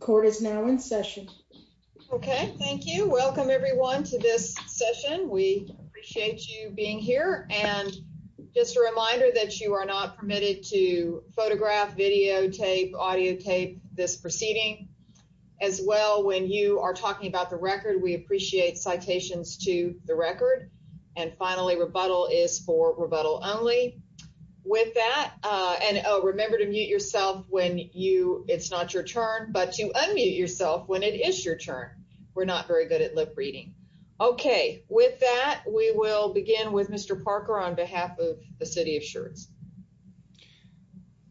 Court is now in session Okay. Thank you. Welcome everyone to this session. We appreciate you being here and Just a reminder that you are not permitted to photograph videotape audio tape this proceeding as Well when you are talking about the record, we appreciate citations to the record and finally rebuttal is for rebuttal only With that and remember to mute yourself when you it's not your turn but to unmute yourself when it is your turn We're not very good at lip-reading Okay with that we will begin with mr. Parker on behalf of the city of Schertz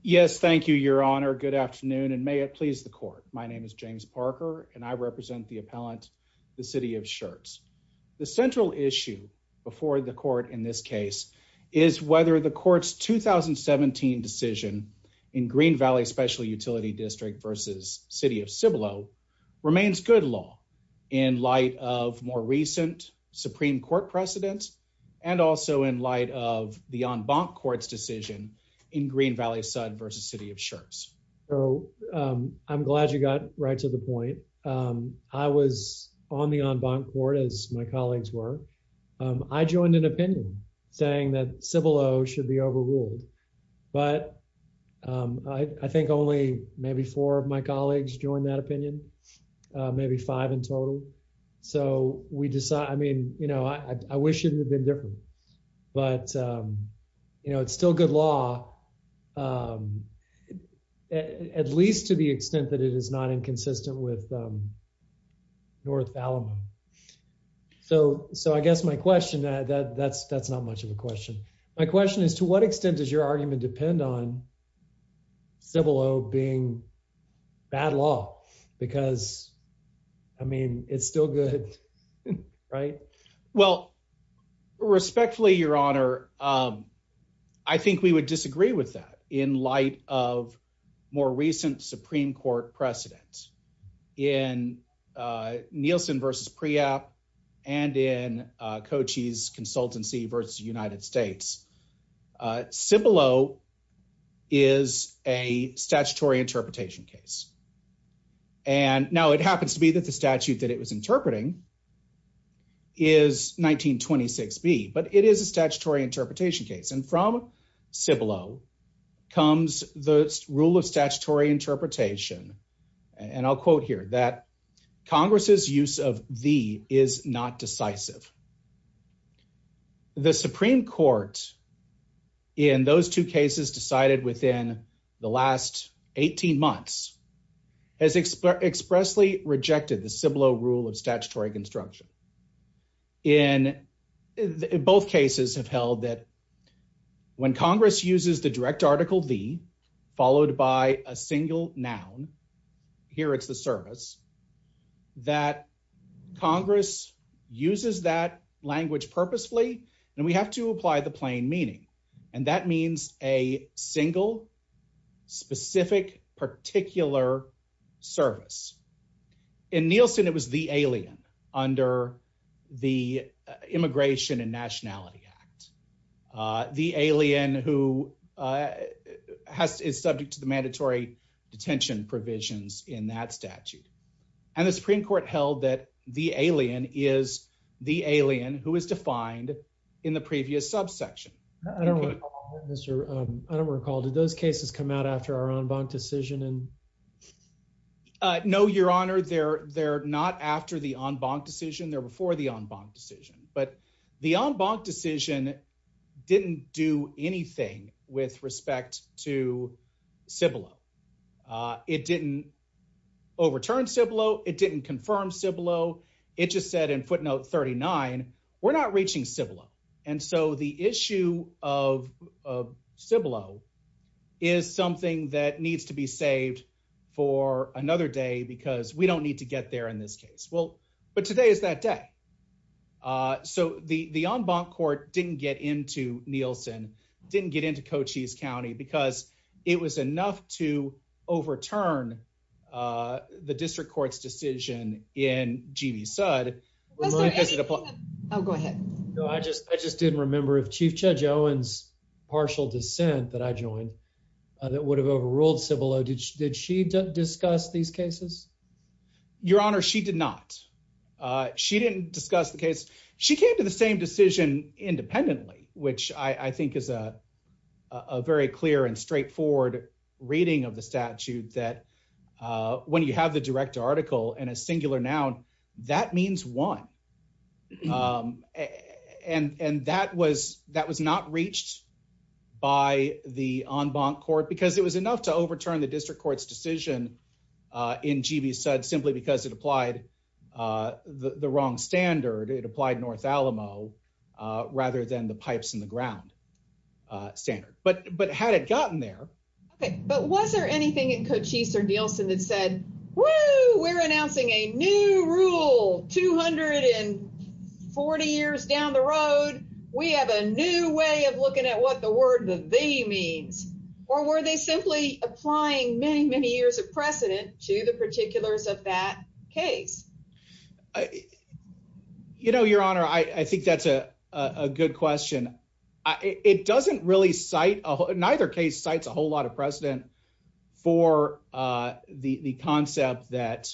Yes, thank you your honor good afternoon and may it please the court My name is James Parker and I represent the appellant the city of Schertz The central issue before the court in this case is whether the court's 2017 decision in Green Valley Special Utility District versus city of Cibolo Remains good law in light of more recent Supreme Court precedents and also in light of the en banc courts decision in Green Valley Sud versus city of Schertz. Oh I'm glad you got right to the point I was on the en banc court as my colleagues were I joined an opinion saying that Cibolo should be overruled but I think only maybe four of my colleagues joined that opinion Maybe five in total. So we decide I mean, you know, I wish it had been different but You know, it's still good law At least to the extent that it is not inconsistent with North Alabama So so I guess my question that that that's that's not much of a question. My question is to what extent does your argument depend on? Cibolo being bad law because I mean, it's still good Right. Well Respectfully your honor. I Think we would disagree with that in light of more recent Supreme Court precedent in Nielsen versus pre-op and in Cochise consultancy versus United States Cibolo is a statutory interpretation case and Now it happens to be that the statute that it was interpreting is 1926 B but it is a statutory interpretation case and from Cibolo comes the rule of statutory interpretation and I'll quote here that Congress's use of the is not decisive The Supreme Court in those two cases decided within the last 18 months has expressly rejected the Cibolo rule of statutory construction in Both cases have held that When Congress uses the direct article V followed by a single noun Here, it's the service that Congress uses that language purposefully and we have to apply the plain meaning and that means a single specific particular service in Nielsen it was the alien under the Immigration and Nationality Act the alien who Has to is subject to the mandatory detention provisions in that statute and the Supreme Court held that the alien is The alien who is defined in the previous subsection. I don't Don't recall. Did those cases come out after our own bank decision and I know your honor. They're they're not after the en banc decision there before the en banc decision, but the en banc decision Didn't do anything with respect to Cibolo it didn't Overturn Cibolo. It didn't confirm Cibolo. It just said in footnote 39. We're not reaching Cibolo. And so the issue of Cibolo is Something that needs to be saved for another day because we don't need to get there in this case. Well, but today is that day So the the en banc court didn't get into Nielsen didn't get into Cochise County because it was enough to overturn the district courts decision in GV Sud Oh, go ahead. I just I just didn't remember if Chief Judge Owens Partial dissent that I joined that would have overruled Cibolo. Did she did she discuss these cases? Your honor. She did not She didn't discuss the case. She came to the same decision independently, which I think is a very clear and straightforward reading of the statute that When you have the direct article and a singular noun that means one And and that was that was not reached By the en banc court because it was enough to overturn the district courts decision In GV Sud simply because it applied The wrong standard it applied North Alamo Rather than the pipes in the ground Standard but but had it gotten there But was there anything in Cochise or Nielsen that said well, we're announcing a new rule 240 years down the road We have a new way of looking at what the word the V means Or were they simply applying many many years of precedent to the particulars of that case? I You know your honor. I think that's a a good question It doesn't really cite a neither case cites a whole lot of precedent for the the concept that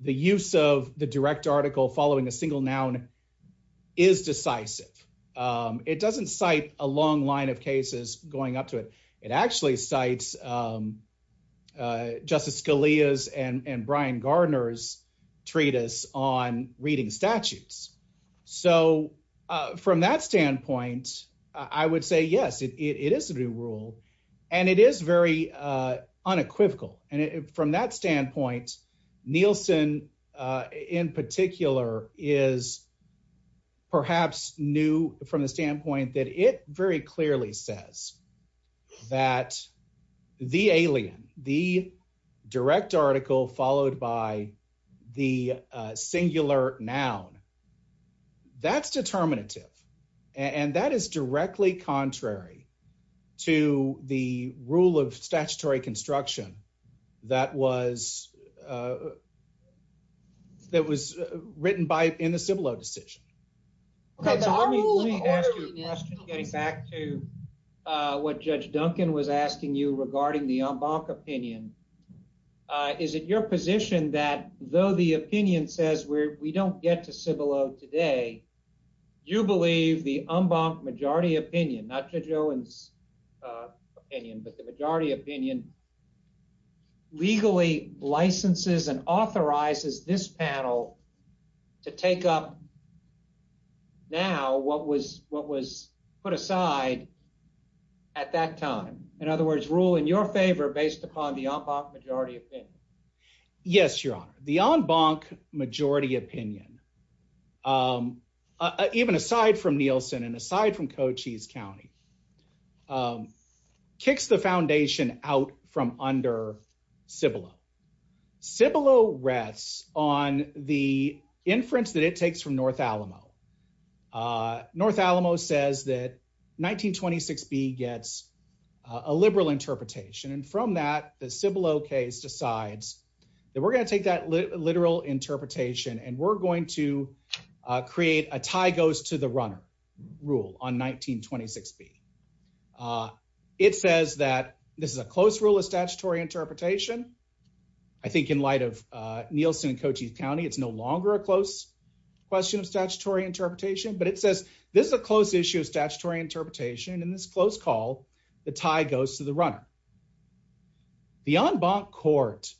The use of the direct article following a single noun is decisive It doesn't cite a long line of cases going up to it. It actually cites Justice Scalia's and and Brian Gardner's treatise on reading statutes so From that standpoint, I would say yes, it is a new rule and it is very unequivocal and from that standpoint Nielsen in particular is Perhaps new from the standpoint that it very clearly says that The alien the direct article followed by the singular noun that's determinative and that is directly contrary to the rule of statutory construction that was That was written by in the Cibolo decision What judge Duncan was asking you regarding the en banc opinion Is it your position that though the opinion says where we don't get to Cibolo today You believe the en banc majority opinion not judge Owens opinion, but the majority opinion Legally licenses and authorizes this panel to take up Now what was what was put aside at that time? In other words rule in your favor based upon the en banc majority opinion. Yes, your honor the en banc majority opinion Even aside from Nielsen and aside from Cochise County Kicks the foundation out from under Cibolo Cibolo rests on the inference that it takes from North Alamo North Alamo says that 1926 B gets a liberal interpretation and from that the Cibolo case decides that we're going to take that literal interpretation and we're going to Create a tie goes to the runner rule on 1926 B It says that this is a close rule of statutory interpretation. I Think in light of Nielsen and Cochise County, it's no longer a close Question of statutory interpretation, but it says this is a close issue of statutory interpretation in this close call the tie goes to the runner the en banc court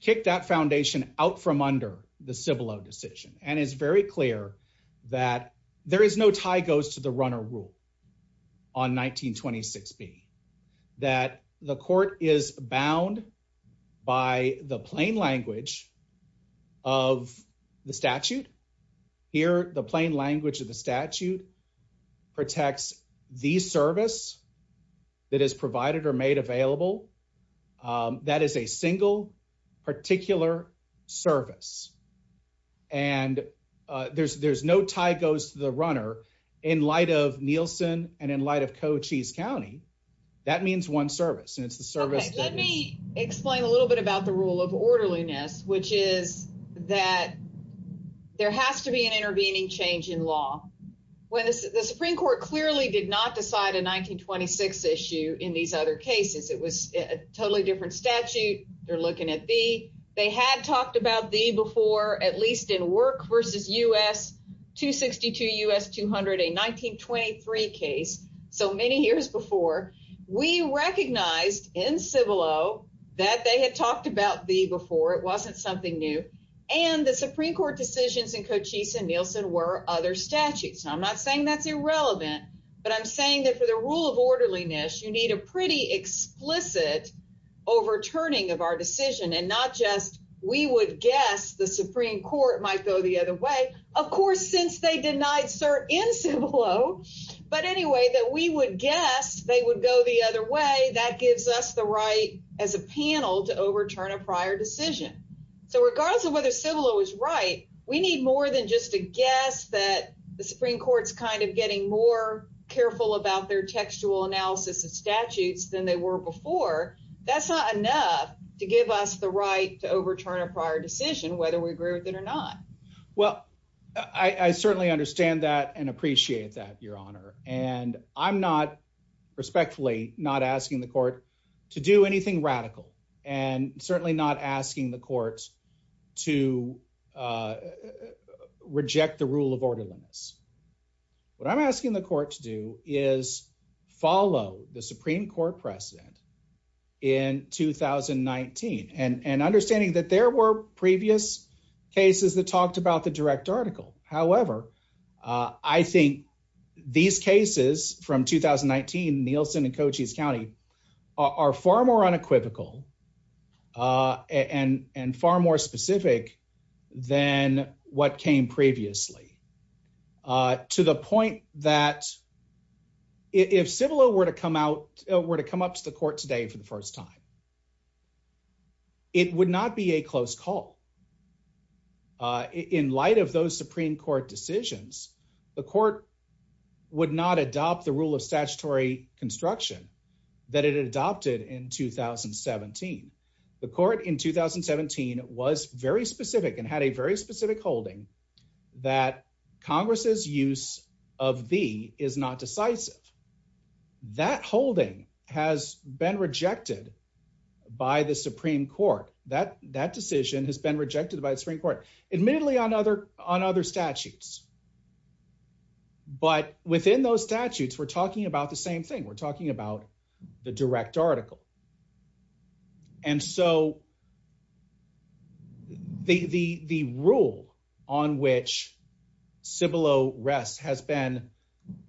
Kicked that foundation out from under the Cibolo decision and is very clear that There is no tie goes to the runner rule on 1926 B that the court is bound by the plain language of The statute here the plain language of the statute protects the service That is provided or made available That is a single particular service and There's there's no tie goes to the runner in light of Nielsen and in light of Cochise County That means one service and it's the service. Let me explain a little bit about the rule of orderliness, which is that There has to be an intervening change in law when the Supreme Court clearly did not decide a 1926 issue in these other cases. It was a totally different statute. They're looking at B They had talked about the before at least in work versus us 262 us 200 a 1923 case so many years before We recognized in Cibolo that they had talked about the before. It wasn't something new And the Supreme Court decisions in Cochise and Nielsen were other statutes I'm not saying that's irrelevant, but I'm saying that for the rule of orderliness you need a pretty explicit Overturning of our decision and not just we would guess the Supreme Court might go the other way Of course since they denied cert in Cibolo But anyway that we would guess they would go the other way that gives us the right as a panel to overturn a prior decision So regardless of whether Cibolo was right We need more than just a guess that the Supreme Court's kind of getting more Careful about their textual analysis of statutes than they were before That's not enough to give us the right to overturn a prior decision whether we agree with it or not. Well, I Certainly understand that and appreciate that your honor and I'm not respectfully not asking the court to do anything radical and certainly not asking the courts to Reject the rule of orderliness What I'm asking the court to do is follow the Supreme Court precedent in 2019 and and understanding that there were previous Cases that talked about the direct article. However, I think These cases from 2019 Nielsen and Cochise County are far more unequivocal And and far more specific than what came previously To the point that If Cibolo were to come out were to come up to the court today for the first time It would not be a close call In light of those Supreme Court decisions the court Would not adopt the rule of statutory construction that it adopted in 2017 the court in 2017 was very specific and had a very specific holding that Congress's use of the is not decisive That holding has been rejected By the Supreme Court that that decision has been rejected by the Supreme Court admittedly on other on other statutes But within those statutes we're talking about the same thing we're talking about the direct article and so The the the rule on which Cibolo rests has been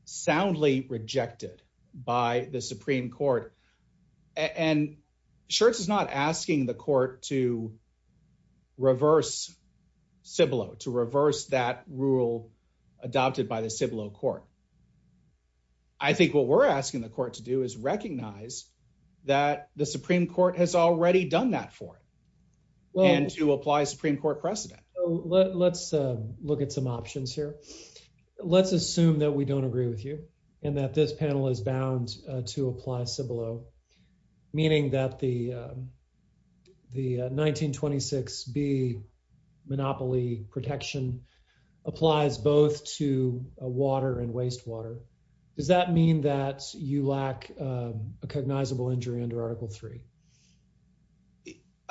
soundly rejected by the Supreme Court and Schertz is not asking the court to Reverse Cibolo to reverse that rule adopted by the Cibolo court. I Supreme Court has already done that for Well, and to apply Supreme Court precedent. Let's look at some options here Let's assume that we don't agree with you and that this panel is bound to apply Cibolo meaning that the the 1926 be monopoly protection Applies both to water and wastewater. Does that mean that you lack a Recognizable injury under article 3.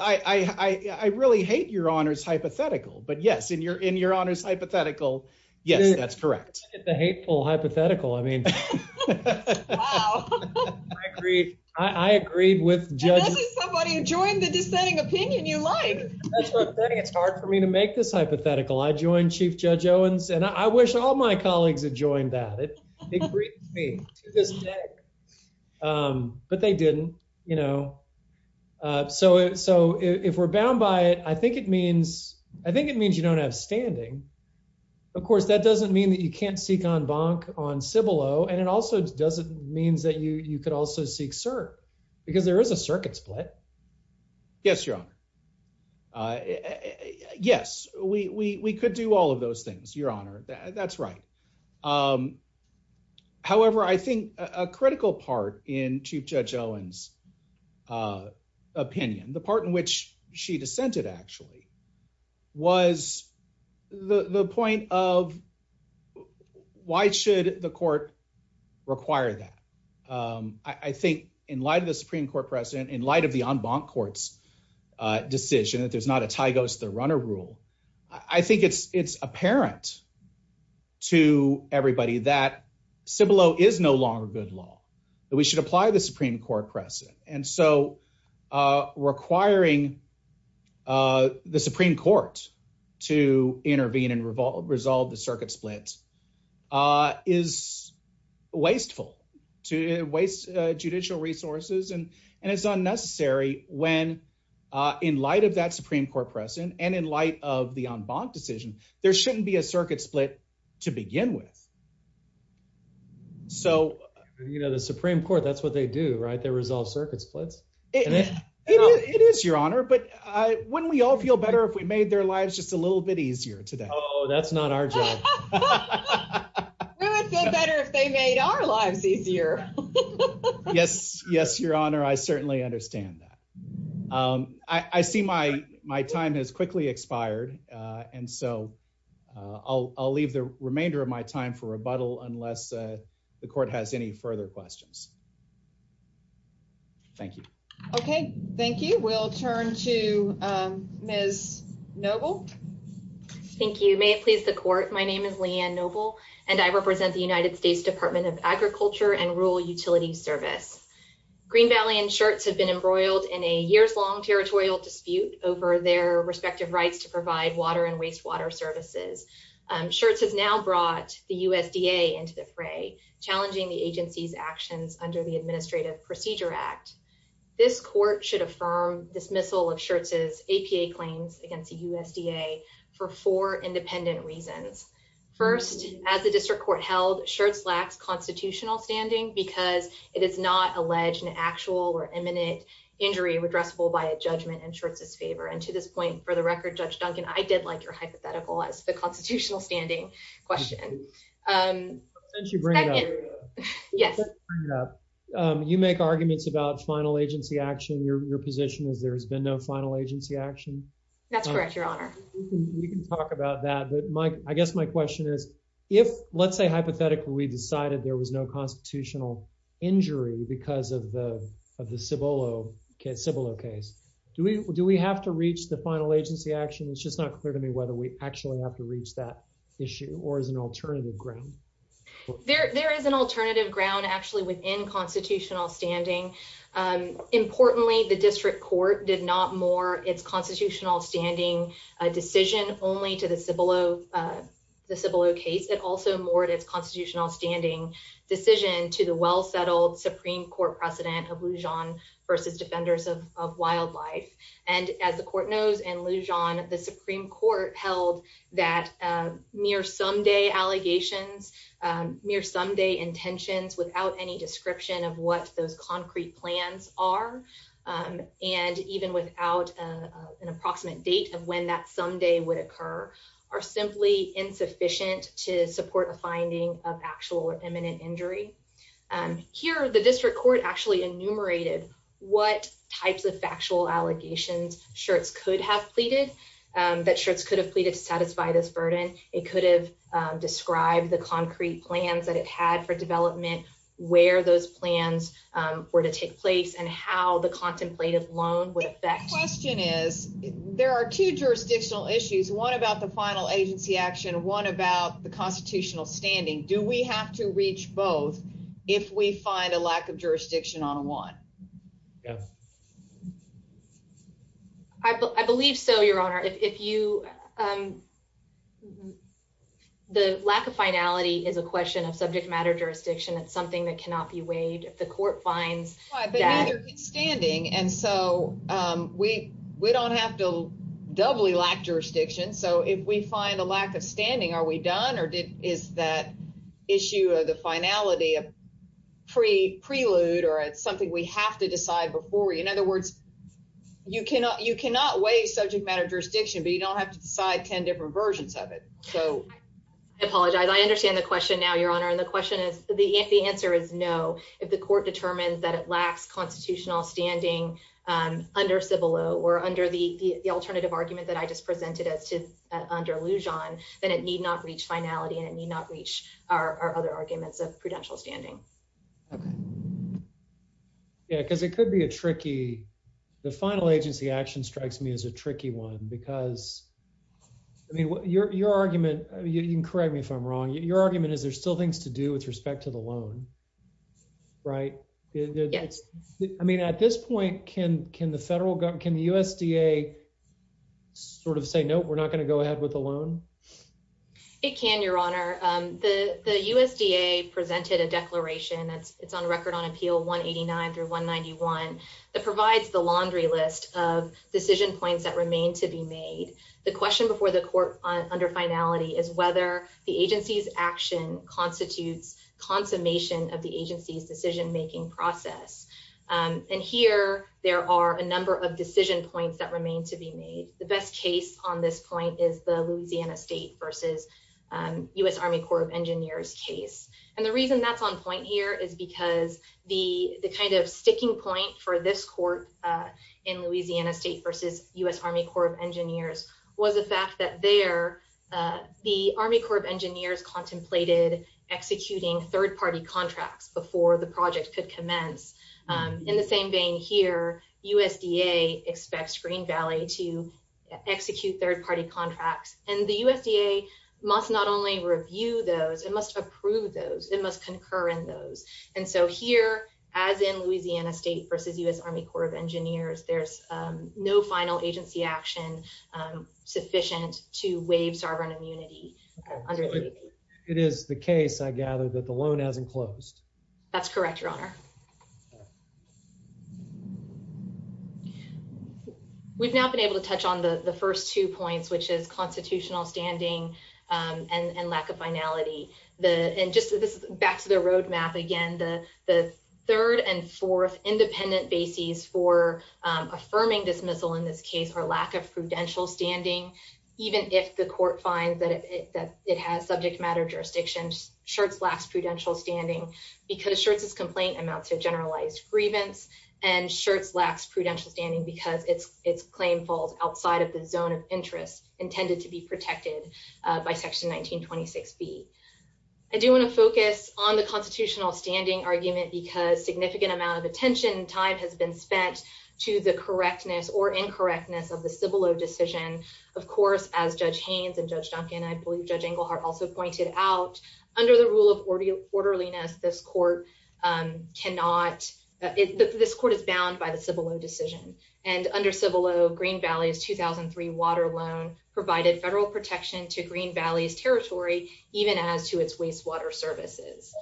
I Really hate your honors hypothetical, but yes in your in your honors hypothetical. Yes, that's correct the hateful hypothetical. I mean I agreed with Join the dissenting opinion you like It's hard for me to make this hypothetical. I joined chief judge Owens and I wish all my colleagues had joined that But they didn't you know So so if we're bound by it, I think it means I think it means you don't have standing Of course That doesn't mean that you can't seek on bonk on Cibolo and it also doesn't means that you you could also seek sir Because there is a circuit split Yes, your honor Yes, we we could do all of those things your honor that's right However, I think a critical part in chief judge Owens Opinion the part in which she dissented actually was the the point of Why should the court require that I think in light of the Supreme Court president in light of the en banc courts Decision that there's not a tie goes to the runner rule. I think it's it's apparent To everybody that Cibolo is no longer good law that we should apply the Supreme Court Crescent and so Requiring the Supreme Court to intervene and revolve resolve the circuit splits is wasteful to waste judicial resources and and it's unnecessary when In light of that Supreme Court precedent and in light of the en banc decision there shouldn't be a circuit split to begin with So, you know the Supreme Court that's what they do right there resolve circuit splits It is your honor, but I wouldn't we all feel better if we made their lives just a little bit easier today Oh, that's not our job Yes, yes your honor I certainly understand that I see my my time has quickly expired. And so I'll leave the remainder of my time for rebuttal unless the court has any further questions. Thank you. Okay, thank you. We'll turn to Miss noble Thank you. May it please the court. My name is Leanne noble and I represent the United States Department of Agriculture and Rural Utility Service. Green Valley and Schertz have been embroiled in a years-long territorial dispute over their respective rights to provide water and wastewater services. Schertz has now brought the USDA into the fray challenging the agency's actions under the Administrative Procedure Act. This court should affirm dismissal of Schertz's APA claims against the USDA for four independent reasons. First, as the district court held Schertz lacks constitutional standing because it is not alleged an actual or imminent injury redressable by a judgment in Schertz's favor. And to this point, for the record, Judge Duncan, I did like your hypothetical as the constitutional standing question. Since you bring it up. Yes. You make arguments about final agency action, your position is there's been no final agency action. That's correct, your honor. We can talk about that. But my, I guess my question is, if, let's say, hypothetically, we decided there was no constitutional injury because of the of the Cibolo case. Do we, do we have to reach the final agency action? It's just not clear to me whether we actually have to reach that issue or as an alternative ground. There, there is an alternative ground actually within constitutional standing. Importantly, the district court did not more its constitutional standing a decision only to the Cibolo the Cibolo case. It also more to its constitutional standing decision to the well settled Supreme Court precedent of Lujan versus defenders of wildlife. And as the court knows and Lujan the Supreme Court held that near someday allegations near someday intentions without any description of what those concrete plans are. And even without an approximate date of when that someday would occur are simply insufficient to support a finding of actual imminent injury. And here the district court actually enumerated what types of factual allegations Schertz could have pleaded that Schertz could have pleaded to satisfy this burden. It could have described the concrete plans that it had for development where those plans were to take place and how the contemplative loan would affect The question is, there are two jurisdictional issues. One about the final agency action. One about the constitutional standing. Do we have to reach both if we find a lack of jurisdiction on one? I believe so, Your Honor, if you The lack of finality is a question of subject matter jurisdiction. It's something that cannot be waived if the court finds Standing and so we we don't have to doubly lack jurisdiction. So if we find a lack of standing. Are we done or did is that issue of the finality of Pre prelude or it's something we have to decide before. In other words, you cannot you cannot waive subject matter jurisdiction, but you don't have to decide 10 different versions of it so Apologize. I understand the question. Now, Your Honor. And the question is the answer is no. If the court determines that it lacks constitutional standing. Under civil or under the alternative argument that I just presented as to under illusion, then it need not reach finality and it need not reach our other arguments of prudential standing Yeah, because it could be a tricky the final agency action strikes me as a tricky one because I mean, what your, your argument. You can correct me if I'm wrong. Your argument is there's still things to do with respect to the loan. Right. I mean, at this point, can, can the federal government can the USDA sort of say no, we're not going to go ahead with a loan. It can, Your Honor, the USDA presented a declaration that's it's on record on appeal 189 through 191 That provides the laundry list of decision points that remain to be made the question before the court on under finality is whether the agency's action constitutes consummation of the agency's decision making process. And here there are a number of decision points that remain to be made the best case on this point is the Louisiana State versus US Army Corps of Engineers case. And the reason that's on point here is because the the kind of sticking point for this court. In Louisiana State versus US Army Corps of Engineers was the fact that they're The Army Corps of Engineers contemplated executing third party contracts before the project could commence In the same vein here USDA expects Green Valley to execute third party contracts and the USDA must not only review those it must approve those it must concur in those And so here as in Louisiana State versus US Army Corps of Engineers, there's no final agency action sufficient to waive sovereign immunity. It is the case, I gather that the loan hasn't closed. That's correct, Your Honor. We've now been able to touch on the first two points, which is constitutional standing and lack of finality the and just this back to the roadmap again the the third and fourth independent bases for Affirming dismissal in this case or lack of prudential standing, even if the court finds that it has subject matter jurisdictions Schertz lacks prudential standing Because Schertz's complaint amounts to generalized grievance and Schertz lacks prudential standing because it's it's claim falls outside of the zone of interest intended to be protected by section 1926b I do want to focus on the constitutional standing argument because significant amount of attention and time has been spent To the correctness or incorrectness of the Cibolo decision, of course, as Judge Haynes and Judge Duncan, I believe, Judge Englehart also pointed out Under the rule of orderliness, this court cannot, this court is bound by the Cibolo decision and under Cibolo Green Valley's 2003 water loan provided federal protection to Green Valley's territory, even as to its wastewater services.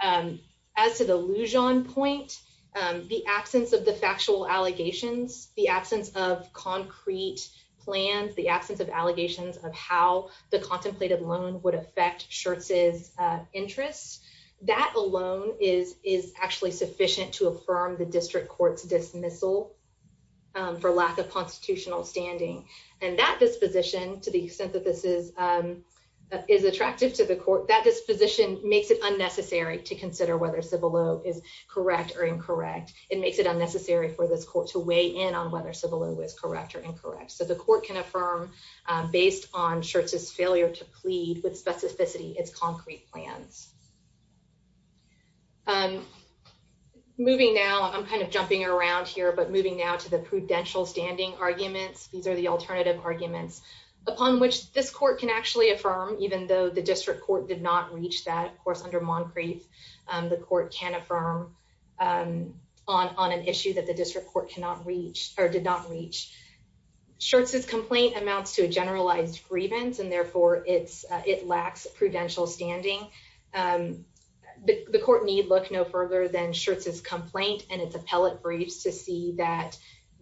And as to the Lujan point, the absence of the factual allegations, the absence of concrete plans, the absence of allegations of how the contemplated loan would affect Schertz's Interests that alone is is actually sufficient to affirm the district court's dismissal for lack of constitutional standing and that disposition, to the extent that this is Is attractive to the court, that disposition makes it unnecessary to consider whether Cibolo is correct or incorrect. It makes it unnecessary for this court to weigh in on whether Cibolo was correct or incorrect. So the court can affirm Based on Schertz's failure to plead with specificity its concrete plans. I'm moving now. I'm kind of jumping around here, but moving now to the prudential standing arguments. These are the alternative arguments upon which this court can actually affirm, even though the district court did not reach that, of course, under Moncrief, the court can affirm On an issue that the district court cannot reach or did not reach. Schertz's complaint amounts to a generalized grievance and therefore it's it lacks prudential standing. The court need look no further than Schertz's complaint and its appellate briefs to see that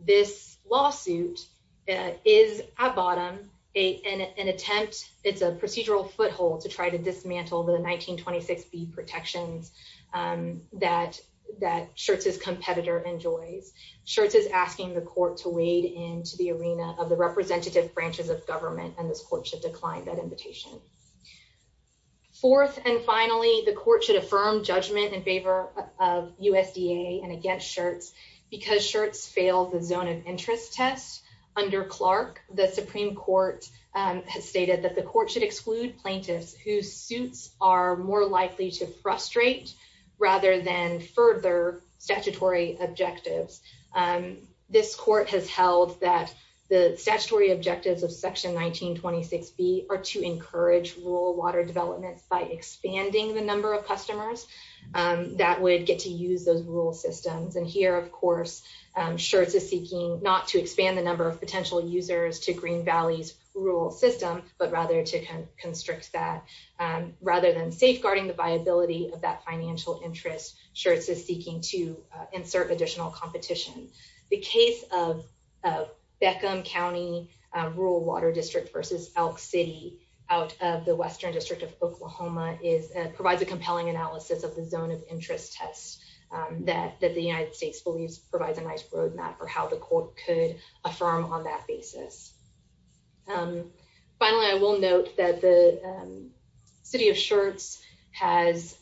this lawsuit is at bottom, an attempt, it's a procedural foothold to try to dismantle the 1926b protections That that Schertz's competitor enjoys. Schertz is asking the court to wade into the arena of the representative branches of government and this court should decline that invitation. Fourth, and finally, the court should affirm judgment in favor of USDA and against Schertz because Schertz failed the zone of interest test under Clark, the Supreme Court. Has stated that the court should exclude plaintiffs whose suits are more likely to frustrate rather than further statutory objectives. And this court has held that the statutory objectives of section 1926b are to encourage rural water development by expanding the number of customers. That would get to use those rural systems. And here, of course, Schertz is seeking not to expand the number of potential users to Green Valley's rural system, but rather to The case of Beckham County Rural Water District versus Elk City out of the Western District of Oklahoma is provides a compelling analysis of the zone of interest test that that the United States believes provides a nice roadmap for how the court could affirm on that basis. And finally, I will note that the city of Schertz has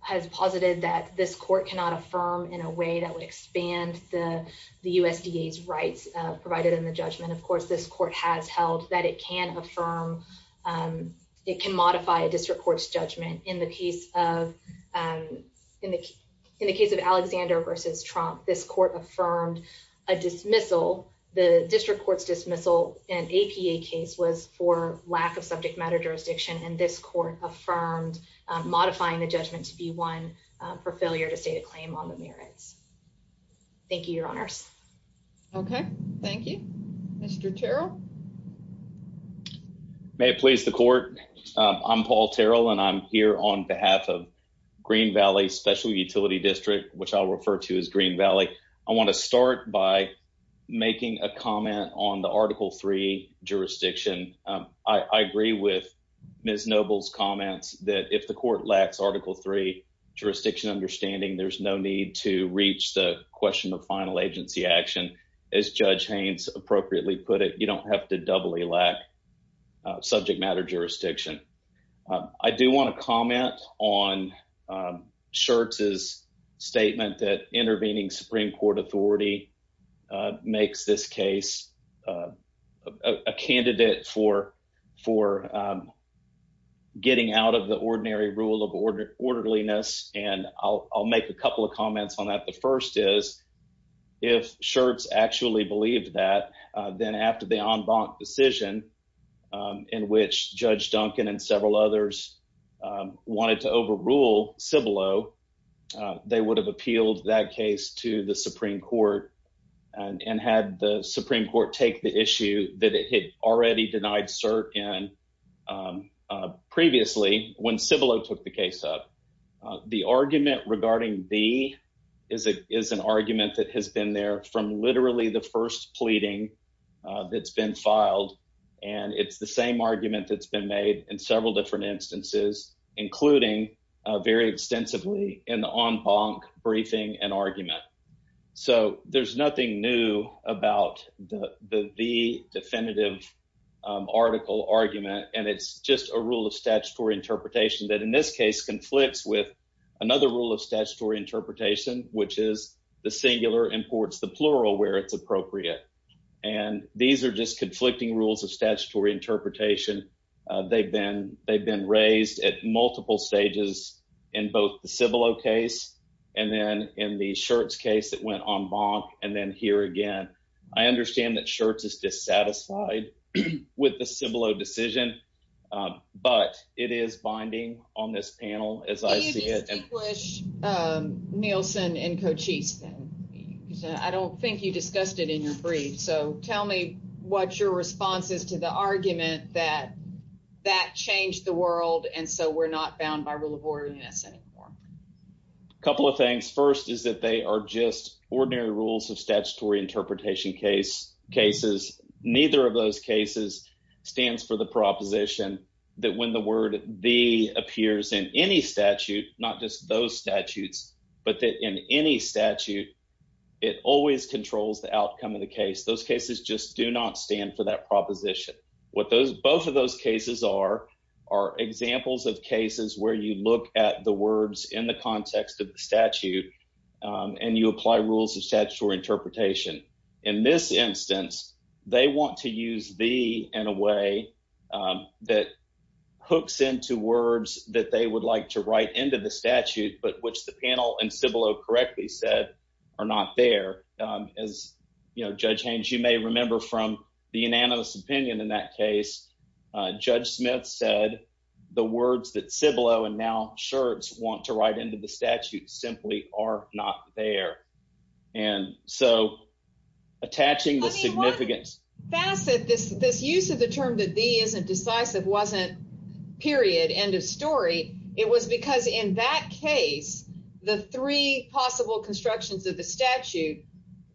has posited that this court cannot affirm in a way that would expand the USDA's rights provided in the judgment. Of course, this court has held that it can affirm It can modify a district courts judgment in the case of And in the in the case of Alexander versus Trump. This court affirmed a dismissal the district courts dismissal and APA case was for lack of subject matter jurisdiction and this court affirmed modifying the judgment to be one for failure to state a claim on the merits. Thank you, your honors. Okay, thank you, Mr. Terrell. May it please the court. I'm Paul Terrell and I'm here on behalf of Green Valley Special Utility District, which I'll refer to as Green Valley. I want to start by Making a comment on the Article Three jurisdiction. I agree with Ms. Noble's comments that if the court lacks Article Three jurisdiction understanding there's no need to reach the question of final agency action. As Judge Haynes appropriately put it, you don't have to doubly lack subject matter jurisdiction. I do want to comment on Schertz's statement that intervening Supreme Court authority makes this case. A candidate for for Getting out of the ordinary rule of order orderliness and I'll make a couple of comments on that. The first is if Schertz actually believed that then after the en banc decision. In which Judge Duncan and several others wanted to overrule Cibolo they would have appealed that case to the Supreme Court. And had the Supreme Court take the issue that it had already denied cert in Previously when Cibolo took the case up. The argument regarding the is a is an argument that has been there from literally the first pleading That's been filed and it's the same argument that's been made in several different instances, including very extensively in the en banc briefing and argument. So there's nothing new about the the definitive Article argument and it's just a rule of statutory interpretation that in this case conflicts with Another rule of statutory interpretation, which is the singular imports the plural where it's appropriate. And these are just conflicting rules of statutory interpretation. They've been they've been raised at multiple stages in both the Cibolo case and then in the Schertz case that went en banc and then here again. I understand that Schertz is dissatisfied with the Cibolo decision, but it is binding on this panel as I see it. I don't think you discussed it in your brief. So tell me what your response is to the argument that that changed the world. And so we're not bound by rule of order in this anymore. Couple of things. First is that they are just ordinary rules of statutory interpretation case cases, neither of those cases. Stands for the proposition that when the word the appears in any statute, not just those statutes, but that in any statute. It always controls the outcome of the case those cases just do not stand for that proposition. What those both of those cases are Are examples of cases where you look at the words in the context of the statute and you apply rules of statutory interpretation in this instance, they want to use the in a way That hooks into words that they would like to write into the statute, but which the panel and Cibolo correctly said are not there. As you know, Judge Haynes, you may remember from the unanimous opinion in that case, Judge Smith said the words that Cibolo and now Schertz want to write into the statute simply are not there. And so attaching the significance Facet this this use of the term that the isn't decisive wasn't period. End of story. It was because in that case, the three possible constructions of the statute.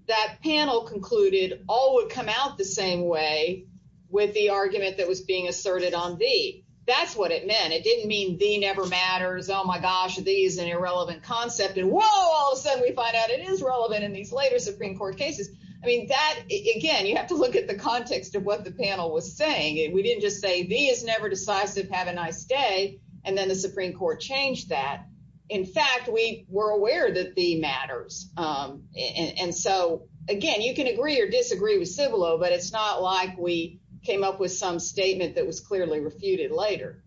That panel concluded all would come out the same way with the argument that was being asserted on the that's what it meant. It didn't mean the never matters. Oh my gosh. These and irrelevant concept and wall. So we find out it is relevant in these later Supreme Court cases. I mean that again, you have to look at the context of what the panel was saying. And we didn't just say the is never decisive. Have a nice day. And then the Supreme Court changed that In fact, we were aware that the matters. And so again, you can agree or disagree with Cibolo, but it's not like we came up with some statement that was clearly refuted later.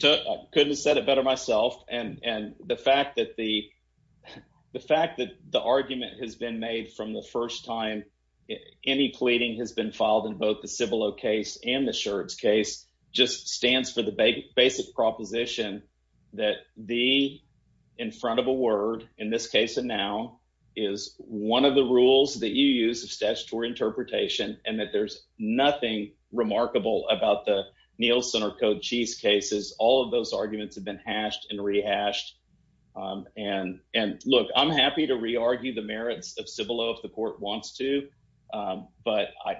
To couldn't have said it better myself and and the fact that the The fact that the argument has been made from the first time any pleading has been filed in both the Cibolo case and the Schertz case just stands for the basic proposition that the In front of a word in this case. And now is one of the rules that you use of statutory interpretation and that there's nothing remarkable about the Nielsen or code cheese cases, all of those arguments have been hashed and rehashed and and look, I'm happy to re argue the merits of Cibolo if the court wants to, but I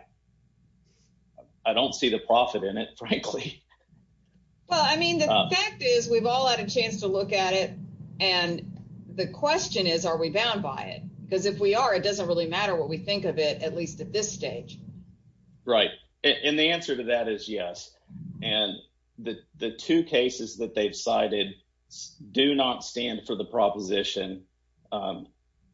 I don't see the profit in it, frankly. Well, I mean, the fact is, we've all had a chance to look at it. And the question is, are we bound by it because if we are, it doesn't really matter what we think of it, at least at this stage. Right. And the answer to that is yes. And the, the two cases that they've cited do not stand for the proposition.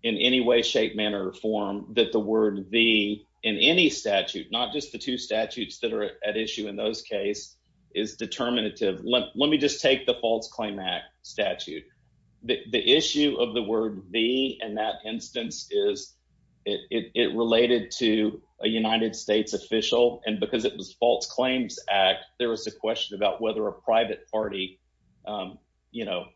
In any way, shape, manner, or form that the word the in any statute, not just the two statutes that are at issue in those case is determinative. Let me just take the false claim act statute. The issue of the word the and that instance is it related to a United States official and because it was false claims act. There was a question about whether a private party. You know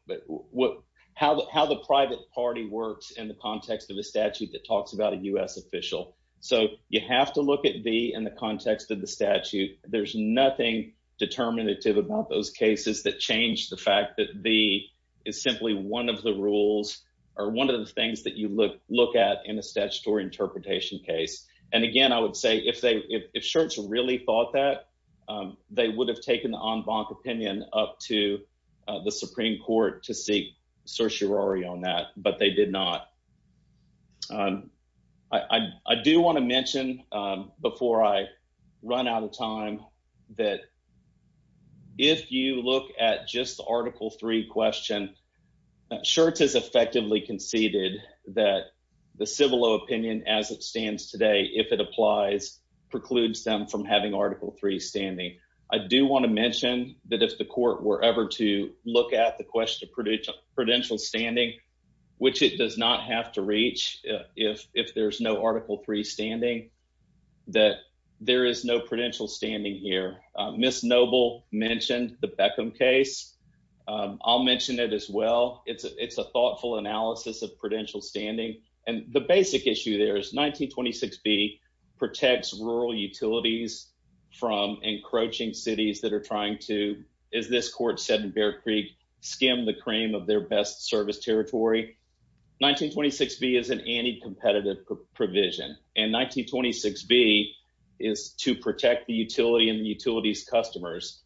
what, how, how the private party works in the context of the statute that talks about a US official. So you have to look at the in the context of the statute. There's nothing Determinative about those cases that change the fact that the is simply one of the rules are one of the things that you look, look at in a statutory interpretation case. And again, I would say if they if shirts really thought that They would have taken on bonk opinion up to the Supreme Court to seek certiorari on that, but they did not I do want to mention before I run out of time that If you look at just Article three question shirts is effectively conceded that the civil opinion as it stands today, if it applies precludes them from having Article three standing I do want to mention that if the court were ever to look at the question of prudential standing Which it does not have to reach if if there's no Article three standing that there is no prudential standing here Miss noble mentioned the Beckham case. I'll mention it as well. It's a it's a thoughtful analysis of prudential standing and the basic issue. There's 1926 be protects rural utilities. From encroaching cities that are trying to is this court said in Bear Creek skim the cream of their best service territory 1926 be is an anti competitive provision and 1926 be is to protect the utility and utilities customers.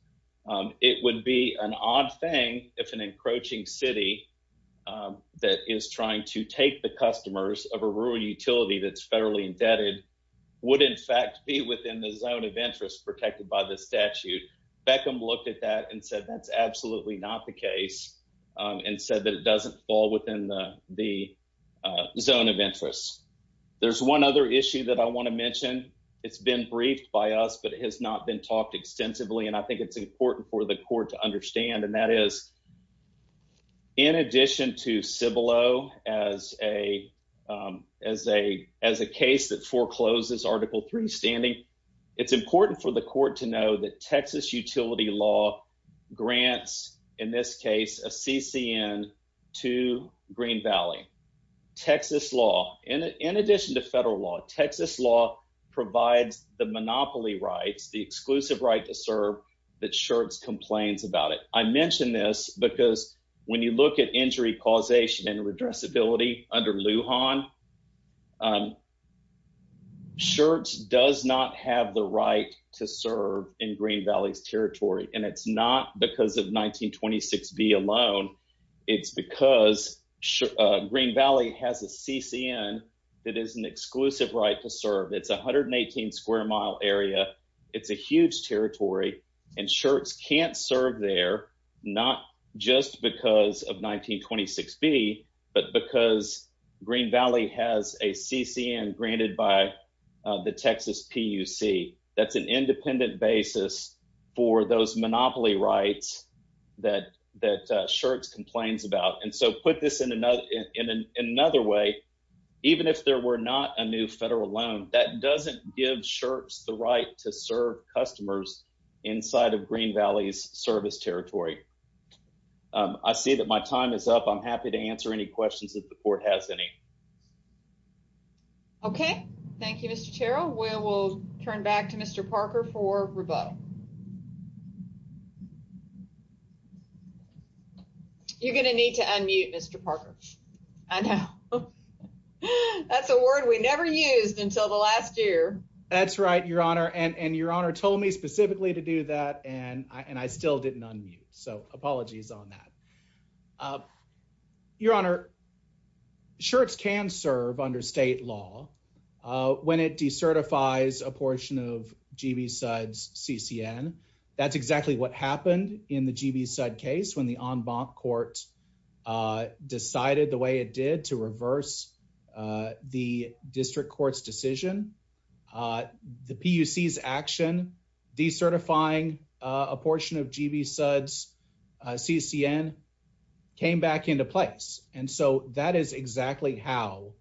It would be an odd thing. If an encroaching city. That is trying to take the customers of a rural utility that's federally indebted would in fact be within the zone of interest protected by the statute Beckham looked at that and said that's absolutely not the case and said that it doesn't fall within the the Zone of interest. There's one other issue that I want to mention. It's been briefed by us, but it has not been talked extensively and I think it's important for the court to understand. And that is In addition to Cibolo as a as a as a case that forecloses Article three standing. It's important for the court to know that Texas utility law grants in this case, a CCN to Green Valley. Texas law and in addition to federal law, Texas law provides the monopoly rights, the exclusive right to serve that shirts complains about it. I mentioned this because when you look at injury causation and redress ability under Lujan Shirts does not have the right to serve in Green Valley's territory. And it's not because of 1926 be alone. It's because Green Valley has a CCN that is an exclusive right to serve. It's 118 square mile area. It's a huge territory and shirts can't serve there, not just because of 1926 be but because Green Valley has a CCN granted by the Texas PUC that's an independent basis for those monopoly rights that that shirts complains about. And so put this in another in another way. Even if there were not a new federal loan that doesn't give shirts the right to serve customers inside of Green Valley's service territory. I see that my time is up. I'm happy to answer any questions that the court has any Okay, thank you, Mr. Terrell. We will turn back to Mr. Parker for rebuttal. You're going to need to unmute Mr. Parker. I know. That's a word we never used until the last year. That's right, Your Honor, and and Your Honor told me specifically to do that and I and I still didn't unmute so apologies on that. Your Honor. Shirts can serve under state law when it decertifies a portion of GB sides CCN. That's exactly what happened in the GB side case when the en banc court. Decided the way it did to reverse the district courts decision. The PUC is action the certifying a portion of GB suds CCN came back into place. And so that is exactly how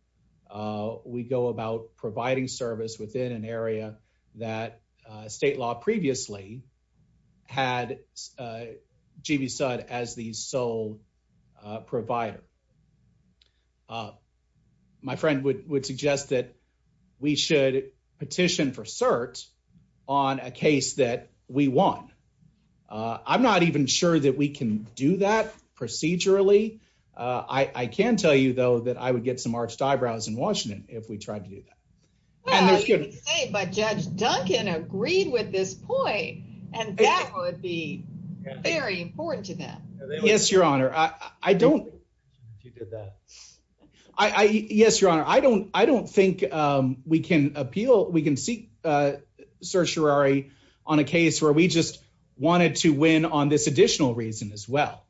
We go about providing service within an area that state law previously had GB side as the sole provider. My friend would would suggest that we should petition for certs on a case that we won. I'm not even sure that we can do that procedurally. I can tell you, though, that I would get some arched eyebrows in Washington. If we tried to do that. But Judge Duncan agreed with this point. And that would be very important to them. Yes, Your Honor. I don't I yes, Your Honor. I don't, I don't think we can appeal. We can seek certiorari on a case where we just wanted to win on this additional reason as well.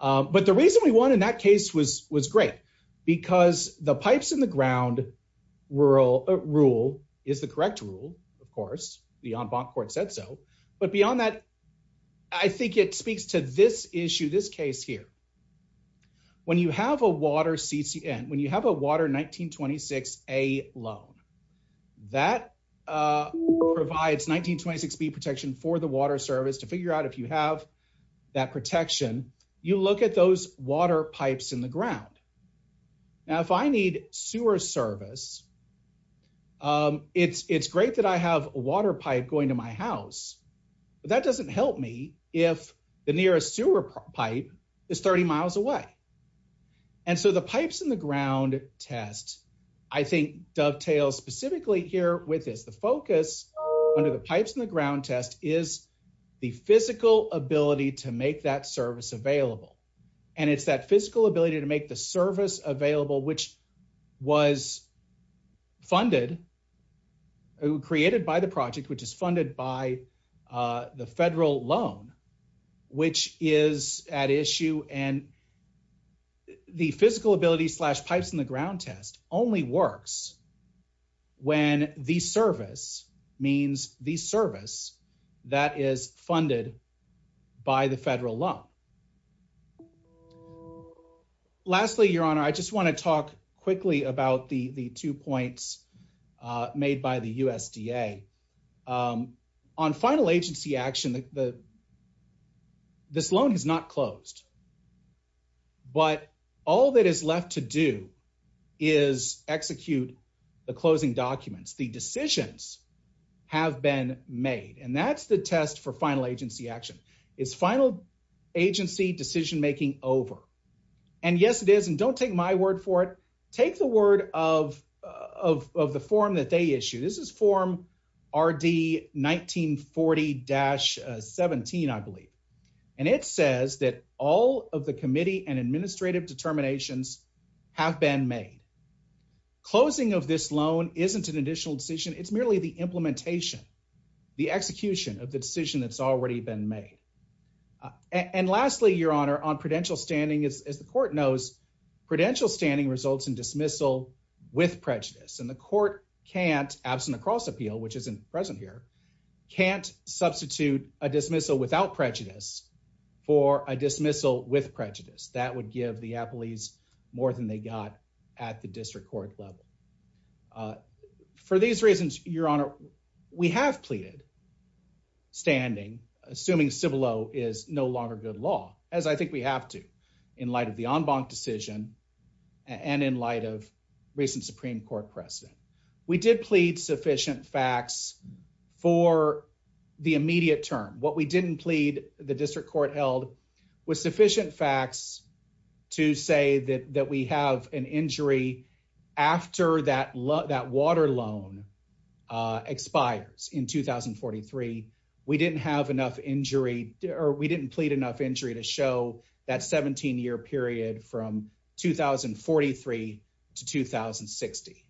But the reason we want in that case was was great because the pipes in the ground rural rule is the correct rule. Of course, the en banc court said so. But beyond that, I think it speaks to this issue this case here. When you have a water CCN when you have a water 1926A loan that Provides 1926B protection for the water service to figure out if you have that protection, you look at those water pipes in the ground. Now, if I need sewer service. It's, it's great that I have a water pipe going to my house, but that doesn't help me if the nearest sewer pipe is 30 miles away. And so the pipes in the ground test I think dovetails specifically here with is the focus under the pipes in the ground test is the physical ability to make that service available and it's that physical ability to make the service available, which was funded Created by the project, which is funded by the federal loan, which is at issue and The physical ability slash pipes in the ground test only works when the service means the service that is funded by the federal law. Lastly, Your Honor. I just want to talk quickly about the the two points made by the USDA. On final agency action that the This loan is not closed. But all that is left to do is execute the closing documents, the decisions have been made. And that's the test for final agency action is final agency decision making over And yes, it is. And don't take my word for it. Take the word of of the form that they issue this is form RD 1940 dash 17 I believe and it says that all of the committee and administrative determinations have been made. Closing of this loan isn't an additional decision. It's merely the implementation, the execution of the decision that's already been made. And lastly, Your Honor on prudential standing is as the court knows prudential standing results in dismissal with prejudice and the court can't absent across appeal, which isn't present here. Can't substitute a dismissal without prejudice for a dismissal with prejudice that would give the Apple. He's more than they got at the district court level. For these reasons, Your Honor, we have pleaded Standing assuming civil oh is no longer good law, as I think we have to in light of the en banc decision. And in light of recent Supreme Court precedent. We did plead sufficient facts for the immediate term. What we didn't plead the district court held With sufficient facts to say that that we have an injury after that love that water loan. Expires in 2043 we didn't have enough injury or we didn't plead enough injury to show that 17 year period from 2043 to 2060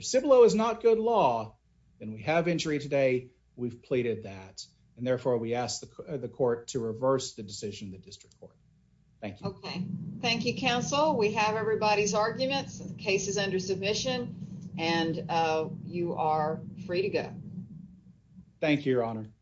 civil oh is not good law and we have injury today we've pleaded that and therefore we asked the court to reverse the decision that district court. Thank you. Okay. Thank you, counsel. We have everybody's arguments cases under submission and you are free to go. Thank you, Your Honor.